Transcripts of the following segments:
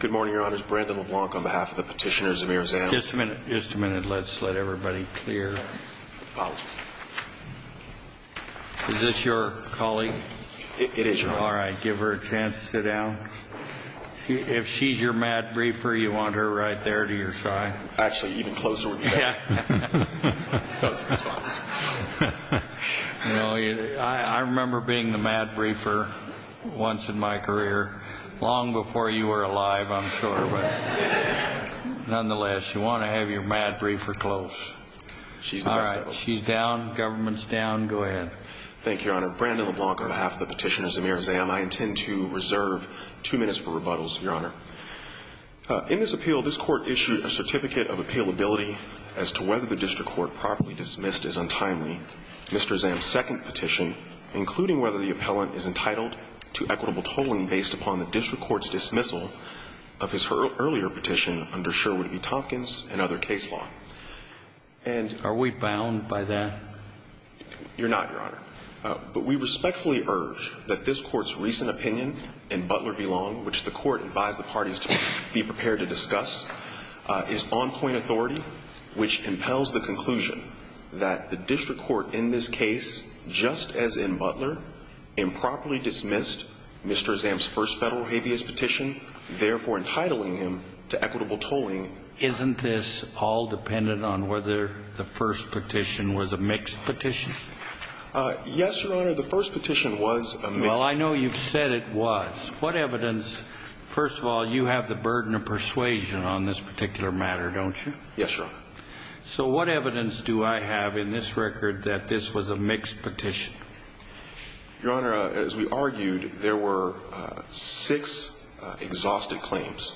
Good morning, Your Honors. Brandon LeBlanc on behalf of the petitioners, Zameer Azam. Just a minute. Just a minute. Let's let everybody clear. Apologies. Is this your colleague? It is your colleague. All right. Give her a chance to sit down. If she's your mad briefer, you want her right there to your side. Actually, even closer would be better. That's fine. You know, I remember being the mad briefer once in my career. Long before you were alive, I'm sure. Nonetheless, you want to have your mad briefer close. She's the best of us. All right. She's down. Government's down. Go ahead. Thank you, Your Honor. Brandon LeBlanc on behalf of the petitioners, Zameer Azam. I intend to reserve two minutes for rebuttals, Your Honor. In this appeal, this Court issued a certificate of appealability as to whether the district court properly dismissed as untimely Mr. Azam's second petition, including whether the appellant is entitled to equitable tolling based upon the district court's dismissal of his earlier petition under Sherwood v. Tompkins and other case law. Are we bound by that? You're not, Your Honor. But we respectfully urge that this Court's recent opinion in Butler v. Long, which the Court advised the parties to be prepared to discuss, is on-point authority, which impels the conclusion that the district court in this case, just as in Butler, improperly dismissed Mr. Azam's first Federal habeas petition, therefore entitling him to equitable tolling. Isn't this all dependent on whether the first petition was a mixed petition? Yes, Your Honor. The first petition was a mixed petition. Well, I know you've said it was. What evidence? First of all, you have the burden of persuasion on this particular matter, don't you? Yes, Your Honor. So what evidence do I have in this record that this was a mixed petition? Your Honor, as we argued, there were six exhausted claims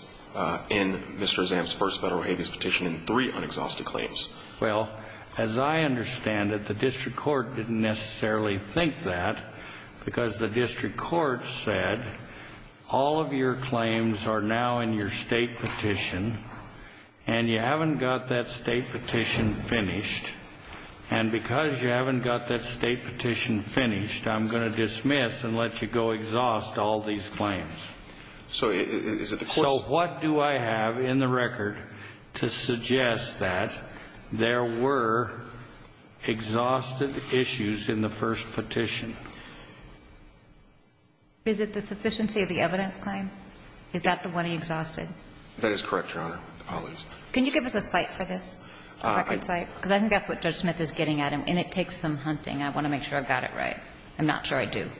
in Mr. Azam's first Federal habeas petition and three unexhausted claims. Well, as I understand it, the district court didn't necessarily think that, because the district court said all of your claims are now in your State petition and you haven't got that State petition finished, and because you haven't got that State petition finished, I'm going to dismiss and let you go exhaust all these claims. So is it the Court's So what do I have in the record to suggest that there were exhausted issues in the first petition? Is it the sufficiency of the evidence claim? Is that the one he exhausted? That is correct, Your Honor. I'll lose it. Can you give us a cite for this, a record cite? Because I think that's what Judge Smith is getting at, and it takes some hunting. I want to make sure I've got it right. I'm not sure I do.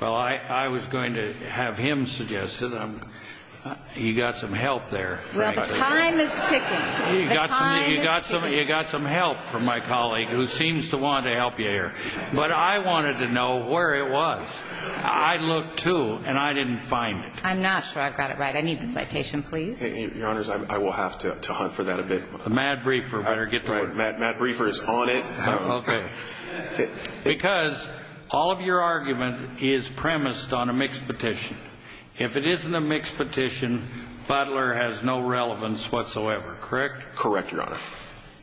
Well, I was going to have him suggest it. You got some help there. Well, the time is ticking. The time is ticking. You got some help from my colleague, who seems to want to help you here. But I wanted to know where it was. I looked, too, and I didn't find it. I'm not sure I've got it right. I need the citation, please. Your Honors, I will have to hunt for that a bit. The mad briefer better get to work. The mad briefer is on it. Okay. Because all of your argument is premised on a mixed petition. If it isn't a mixed petition, Butler has no relevance whatsoever, correct? Correct, Your Honor.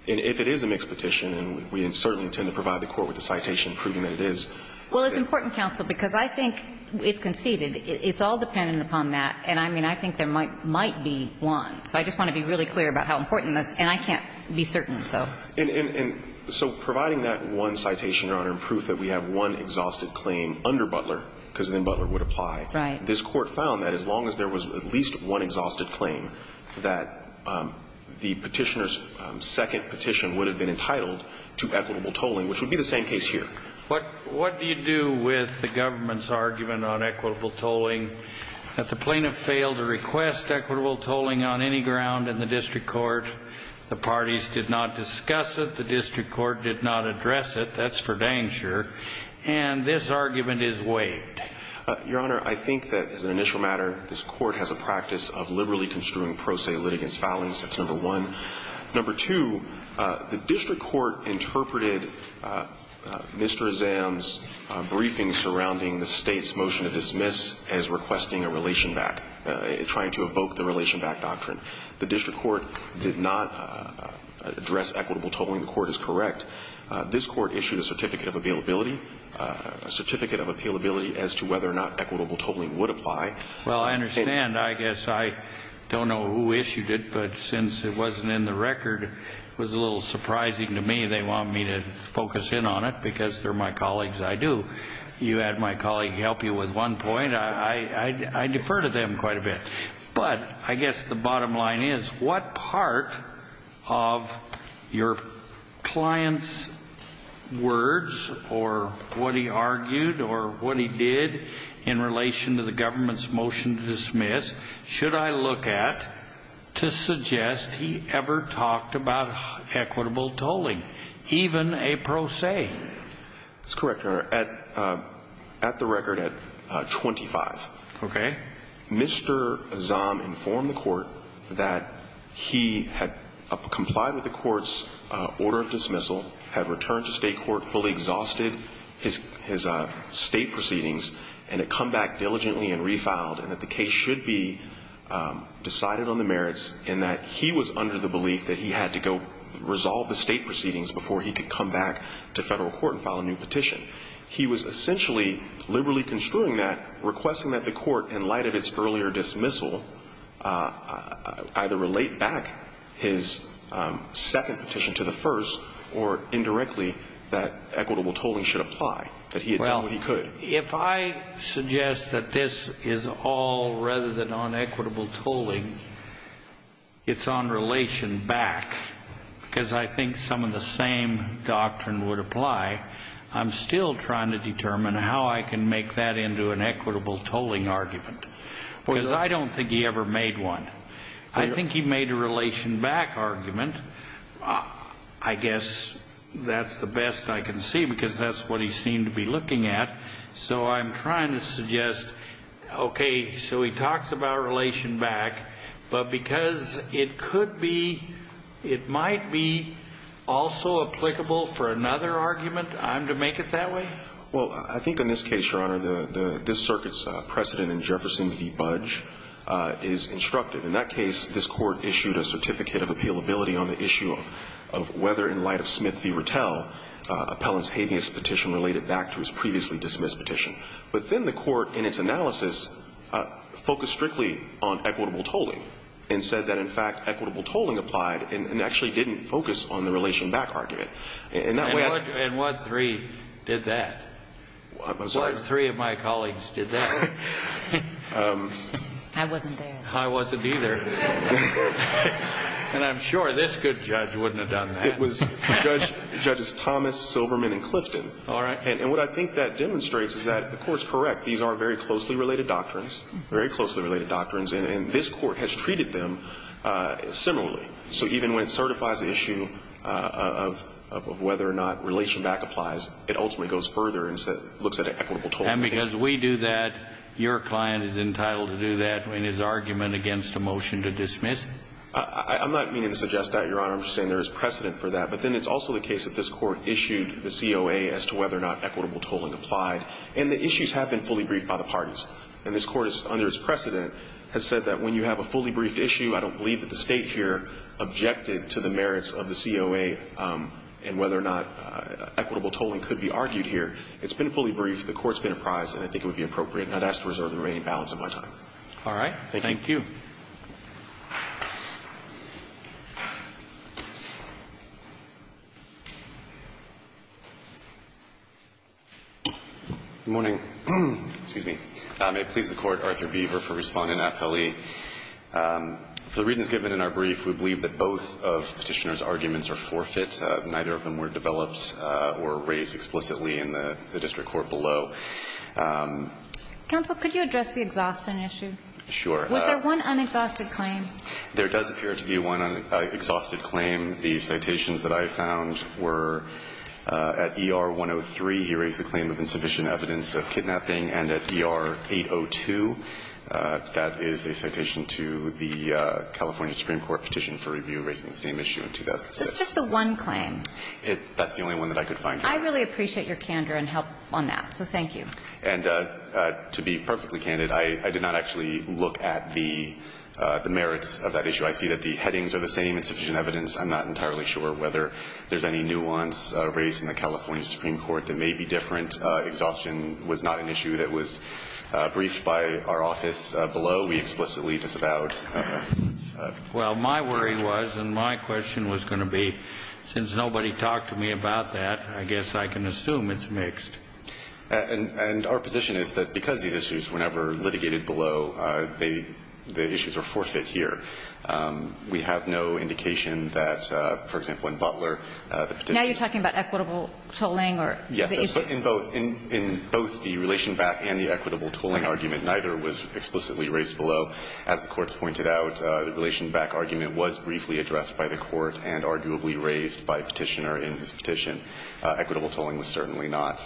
And if it is a mixed petition, and we certainly intend to provide the Court with a citation proving that it is. Well, it's important, counsel, because I think it's conceded. It's all dependent upon that. And, I mean, I think there might be one. So I just want to be really clear about how important this is. And I can't be certain, so. And so providing that one citation, Your Honor, and proof that we have one exhausted claim under Butler, because then Butler would apply. This Court found that as long as there was at least one exhausted claim, that the Petitioner's second petition would have been entitled to equitable tolling, which would be the same case here. What do you do with the government's argument on equitable tolling that the plaintiff failed to request equitable tolling on any ground in the district court? The parties did not discuss it. The district court did not address it. That's for Dangshire. And this argument is waived. Your Honor, I think that as an initial matter, this Court has a practice of liberally construing pro se litigants' filings. That's number one. Number two, the district court interpreted Mr. Azam's briefing surrounding the State's motion to dismiss as requesting a relation back, trying to evoke the relation back doctrine. The district court did not address equitable tolling. The Court is correct. This Court issued a certificate of availability, a certificate of appealability as to whether or not equitable tolling would apply. Well, I understand. I guess I don't know who issued it. But since it wasn't in the record, it was a little surprising to me. They want me to focus in on it because they're my colleagues. I do. You had my colleague help you with one point. I defer to them quite a bit. But I guess the bottom line is, what part of your client's words or what he argued or what he did in relation to the government's motion to dismiss should I look at to suggest he ever talked about equitable tolling, even a pro se? That's correct, Your Honor. At the record at 25. Okay. Mr. Azam informed the Court that he had complied with the Court's order of dismissal, had returned to state court, fully exhausted his state proceedings, and had come back diligently and refiled, and that the case should be decided on the merits, and that he was under the belief that he had to go resolve the state proceedings before he could come back to federal court and file a new petition. He was essentially liberally construing that, requesting that the Court, in light of its earlier dismissal, either relate back his second petition to the first or indirectly that equitable tolling should apply, that he had done what he could. Well, if I suggest that this is all rather than on equitable tolling, it's on relation back, because I think some of the same doctrine would apply, I'm still trying to determine how I can make that into an equitable tolling argument. Because I don't think he ever made one. I think he made a relation back argument. I guess that's the best I can see, because that's what he seemed to be looking at. So I'm trying to suggest, okay, so he talks about relation back, but because it could be, it might be also applicable for another argument, I'm to make it that way? Well, I think in this case, Your Honor, this circuit's precedent in Jefferson v. Budge is instructive. In that case, this Court issued a certificate of appealability on the issue of whether, in light of Smith v. Rattell, Appellant's habeas petition related back to his previously dismissed petition. But then the Court, in its analysis, focused strictly on equitable tolling, and said that, in fact, equitable tolling applied and actually didn't focus on the relation back argument. And what three did that? I'm sorry? What three of my colleagues did that? I wasn't there. I wasn't either. And I'm sure this good judge wouldn't have done that. It was Judges Thomas, Silverman, and Clifton. All right. And what I think that demonstrates is that the Court's correct. These are very closely related doctrines, very closely related doctrines, and this Court has treated them similarly. So even when it certifies the issue of whether or not relation back applies, it ultimately goes further and looks at equitable tolling. And because we do that, your client is entitled to do that in his argument against a motion to dismiss? I'm not meaning to suggest that, Your Honor. I'm just saying there is precedent for that. But then it's also the case that this Court issued the COA as to whether or not equitable tolling applied. And the issues have been fully briefed by the parties. And this Court, under its precedent, has said that when you have a fully briefed issue, I don't believe that the State here objected to the merits of the COA and whether or not equitable tolling could be argued here. It's been fully briefed. The Court's been apprised. And I think it would be appropriate. And I'd ask to reserve the remaining balance of my time. All right. Thank you. Good morning. Excuse me. May it please the Court, Arthur Beaver for Respondent at Pele. For the reasons given in our brief, we believe that both of Petitioner's arguments are forfeit. Neither of them were developed or raised explicitly in the district court below. Counsel, could you address the exhaustion issue? Sure. Was there one unexhausted claim? There does appear to be one unexhausted claim. The citations that I found were at ER 103, he raised the claim of insufficient evidence of kidnapping, and at ER 802. That is a citation to the California Supreme Court petition for review raising the same issue in 2006. So it's just the one claim? That's the only one that I could find. I really appreciate your candor and help on that. So thank you. And to be perfectly candid, I did not actually look at the merits of that issue. I see that the headings are the same, insufficient evidence. I'm not entirely sure whether there's any nuance raised in the California Supreme Court that may be different. Exhaustion was not an issue that was briefed by our office below. We explicitly disavowed. Well, my worry was, and my question was going to be, since nobody talked to me about that, I guess I can assume it's mixed. And our position is that because the issues were never litigated below, the issues are forfeit here. Yes. In both the relation back and the equitable tolling argument, neither was explicitly raised below. As the courts pointed out, the relation back argument was briefly addressed by the court and arguably raised by Petitioner in his petition. Equitable tolling was certainly not.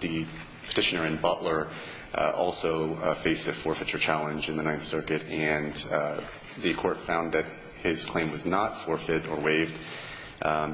The Petitioner and Butler also faced a forfeiture challenge in the Ninth Circuit, and the court found that his claim was not forfeit or waived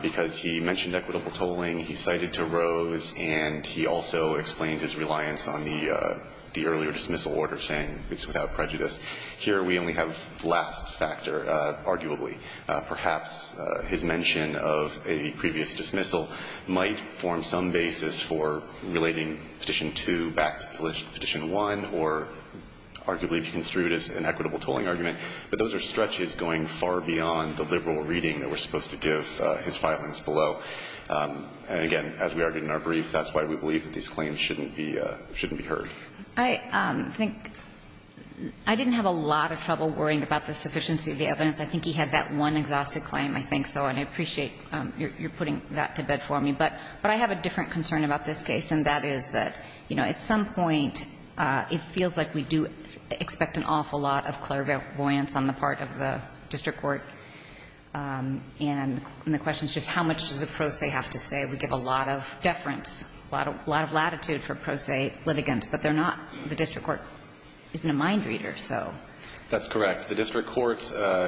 because he mentioned equitable tolling. He cited to Rose, and he also explained his reliance on the earlier dismissal order, saying it's without prejudice. Here we only have the last factor, arguably. Perhaps his mention of a previous dismissal might form some basis for relating Petition 2 back to Petition 1 or arguably be construed as an equitable tolling argument, but those are stretches going far beyond the liberal reading that we're supposed to give his filings below. And again, as we argued in our brief, that's why we believe that these claims shouldn't be heard. I think I didn't have a lot of trouble worrying about the sufficiency of the evidence. I think he had that one exhaustive claim, I think so, and I appreciate your putting that to bed for me. But I have a different concern about this case, and that is that, you know, at some point, it feels like we do expect an awful lot of clairvoyance on the part of the pro se, I have to say. We give a lot of deference, a lot of latitude for pro se litigants, but they're not. The district court isn't a mind reader, so. That's correct. The district court,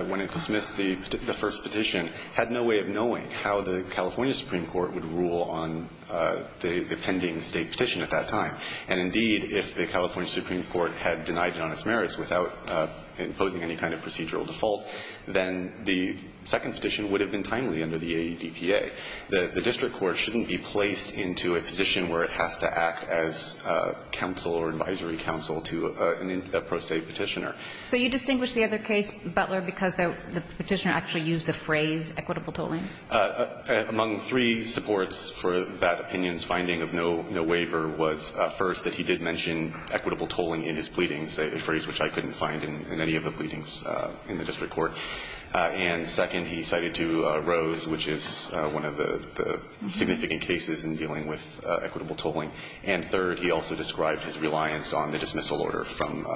when it dismissed the first petition, had no way of knowing how the California Supreme Court would rule on the pending State petition at that time. And indeed, if the California Supreme Court had denied it on its merits without imposing any kind of procedural default, then the second petition would have been dismissed. The district court shouldn't be placed into a position where it has to act as counsel or advisory counsel to a pro se petitioner. So you distinguish the other case, Butler, because the petitioner actually used the phrase equitable tolling? Among three supports for that opinion's finding of no waiver was, first, that he did mention equitable tolling in his pleadings, a phrase which I couldn't find in any of the pleadings in the district court. And second, he cited to Rose, which is one of the significant cases in dealing with equitable tolling. And third, he also described his reliance on the dismissal order from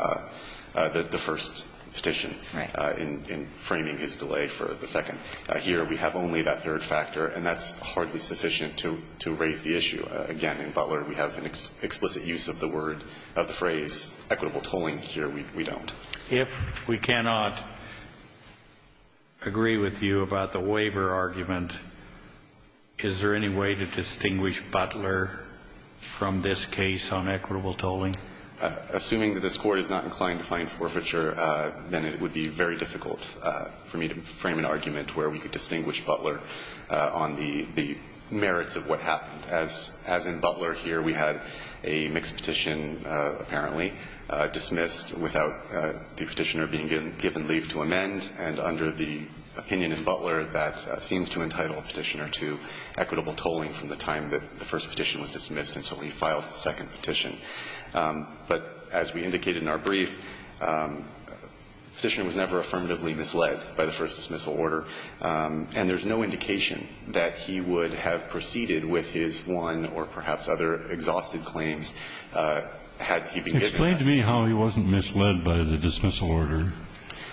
the first petition in framing his delay for the second. Here, we have only that third factor, and that's hardly sufficient to raise the issue. Again, in Butler, we have an explicit use of the word, of the phrase equitable Here, we don't. If we cannot agree with you about the waiver argument, is there any way to distinguish Butler from this case on equitable tolling? Assuming that this court is not inclined to find forfeiture, then it would be very difficult for me to frame an argument where we could distinguish Butler on the merits of what happened. As in Butler here, we had a mixed petition, apparently, dismissed without the Petitioner being given leave to amend. And under the opinion in Butler, that seems to entitle Petitioner to equitable tolling from the time that the first petition was dismissed until he filed the second petition. But as we indicated in our brief, Petitioner was never affirmatively misled by the first dismissal order, and there's no indication that he would have proceeded by the dismissal order.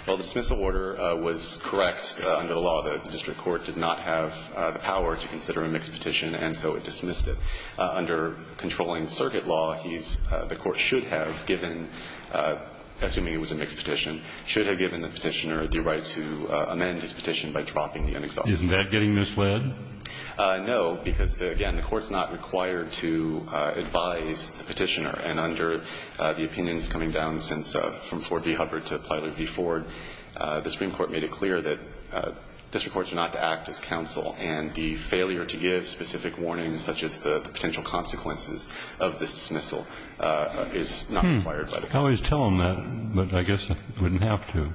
Well, the dismissal order was correct. Under the law, the district court did not have the power to consider a mixed petition, and so it dismissed it. Under controlling circuit law, he's the court should have given, assuming it was a mixed petition, should have given the Petitioner the right to amend his petition by dropping the unexhausted notice. Isn't that getting misled? No, because, again, the court's not required to advise the Petitioner. And under the opinions coming down since from Ford v. Hubbard to Plyler v. Ford, the Supreme Court made it clear that district courts are not to act as counsel, and the failure to give specific warnings such as the potential consequences of this dismissal is not required by the court. I always tell them that, but I guess I wouldn't have to.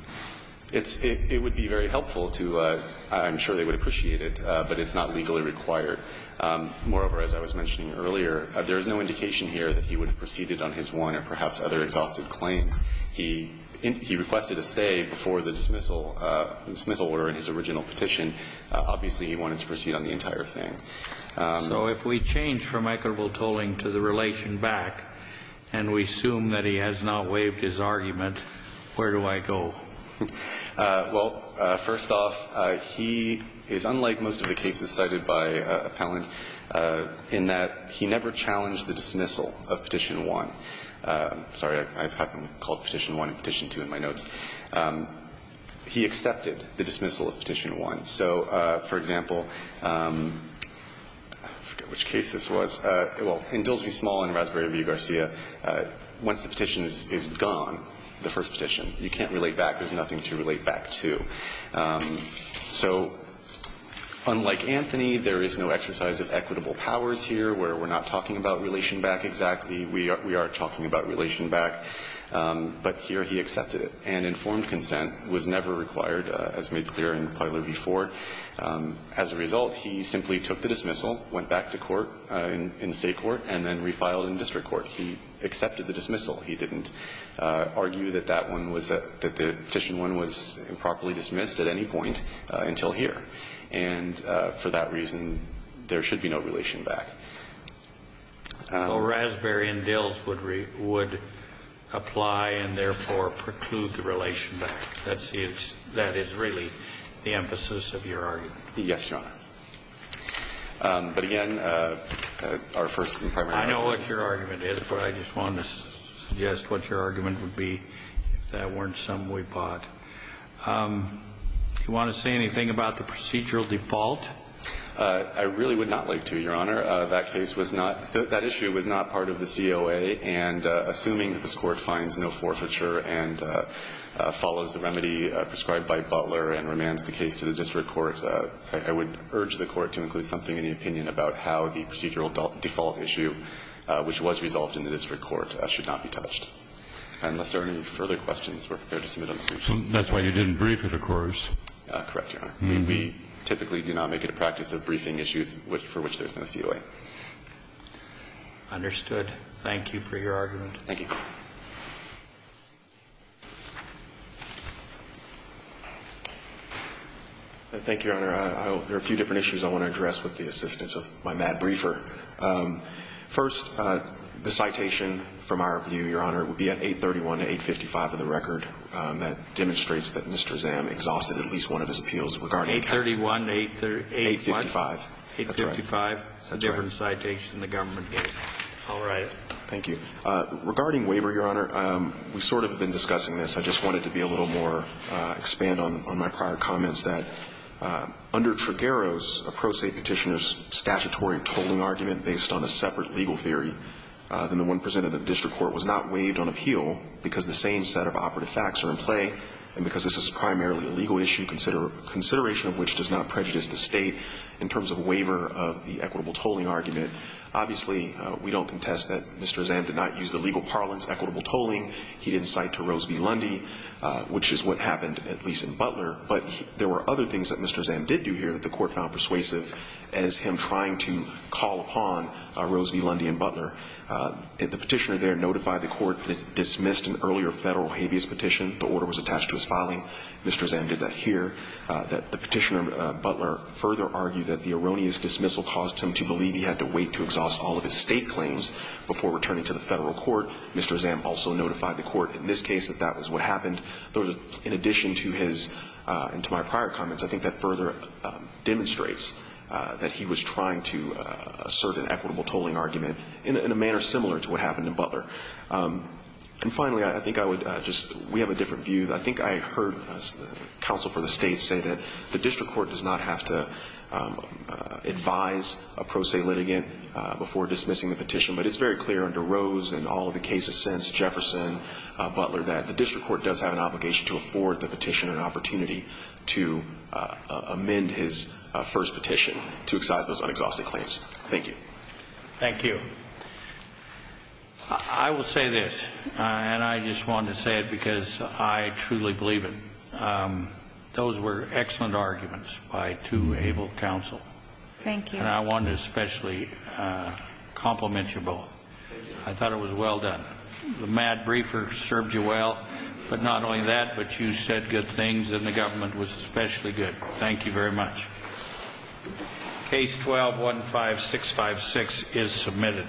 It's – it would be very helpful to – I'm sure they would appreciate it, but it's not legally required. Moreover, as I was mentioning earlier, there is no indication here that he would have proceeded on his one or perhaps other exhausted claims. He requested a stay before the dismissal order in his original petition. Obviously, he wanted to proceed on the entire thing. So if we change from equitable tolling to the relation back and we assume that he has not waived his argument, where do I go? Well, first off, he is unlike most of the cases cited by appellant in that he never challenged the dismissal of Petition 1. I'm sorry. I have them called Petition 1 and Petition 2 in my notes. He accepted the dismissal of Petition 1. So, for example, I forget which case this was. Well, in Dilsby Small and Raspberry v. Garcia, once the petition is gone, the first thing that comes back is nothing to relate back to. So unlike Anthony, there is no exercise of equitable powers here where we're not talking about relation back exactly. We are talking about relation back, but here he accepted it and informed consent was never required, as made clear in Parler v. Ford. As a result, he simply took the dismissal, went back to court in the State court, and then refiled in district court. He accepted the dismissal. He didn't argue that that one was a – that the Petition 1 was improperly dismissed at any point until here. And for that reason, there should be no relation back. So Raspberry and Dils would – would apply and, therefore, preclude the relation back. That's the – that is really the emphasis of your argument. Yes, Your Honor. But, again, our first and primary argument. And, therefore, I just wanted to suggest what your argument would be if that weren't some way bought. Do you want to say anything about the procedural default? I really would not like to, Your Honor. That case was not – that issue was not part of the COA. And assuming that this Court finds no forfeiture and follows the remedy prescribed by Butler and remands the case to the district court, I would urge the Court to include something in the opinion about how the procedural default issue, which was resolved in the district court, should not be touched. Unless there are any further questions, we're prepared to submit them briefly. That's why you didn't brief it, of course. Correct, Your Honor. We typically do not make it a practice of briefing issues for which there's no COA. Understood. Thank you for your argument. Thank you. Thank you, Your Honor. There are a few different issues I want to address with the assistance of my mad briefer. First, the citation from our view, Your Honor, would be at 831 to 855 of the record. That demonstrates that Mr. Zamm exhausted at least one of his appeals regarding the case. 831 to 835? 855. That's right. 855? That's right. Different citation than the government gave. I'll write it. Thank you. Regarding waiver, Your Honor, we've sort of been discussing this. I just wanted to be a little more, expand on my prior comments that under Trigueros, a pro se petitioner's statutory tolling argument based on a separate legal theory than the one presented in the district court was not waived on appeal because the same set of operative facts are in play and because this is primarily a legal issue, consideration of which does not prejudice the State in terms of waiver of the equitable tolling argument. Obviously, we don't contest that Mr. Zamm did not use the legal parlance, equitable tolling. He didn't cite to Rose v. Lundy, which is what happened, at least in Butler. But there were other things that Mr. Zamm did do here that the court found persuasive as him trying to call upon Rose v. Lundy and Butler. The petitioner there notified the court that it dismissed an earlier Federal habeas petition. The order was attached to his filing. Mr. Zamm did that here. The petitioner, Butler, further argued that the erroneous dismissal caused him to believe he had to wait to exhaust all of his State claims before returning to the Federal court. Mr. Zamm also notified the court in this case that that was what happened. In addition to his – and to my prior comments, I think that further demonstrates that he was trying to assert an equitable tolling argument in a manner similar to what happened in Butler. And finally, I think I would just – we have a different view. I think I heard counsel for the State say that the district court does not have to advise a pro se litigant before dismissing the petition, but it's very clear under the case of sense, Jefferson, Butler, that the district court does have an obligation to afford the petitioner an opportunity to amend his first petition to excise those unexhausted claims. Thank you. Thank you. I will say this, and I just wanted to say it because I truly believe it. Those were excellent arguments by two able counsel. Thank you. And I wanted to especially compliment you both. I thought it was well done. The mad briefer served you well. But not only that, but you said good things, and the government was especially good. Thank you very much. Case 12-15656 is submitted.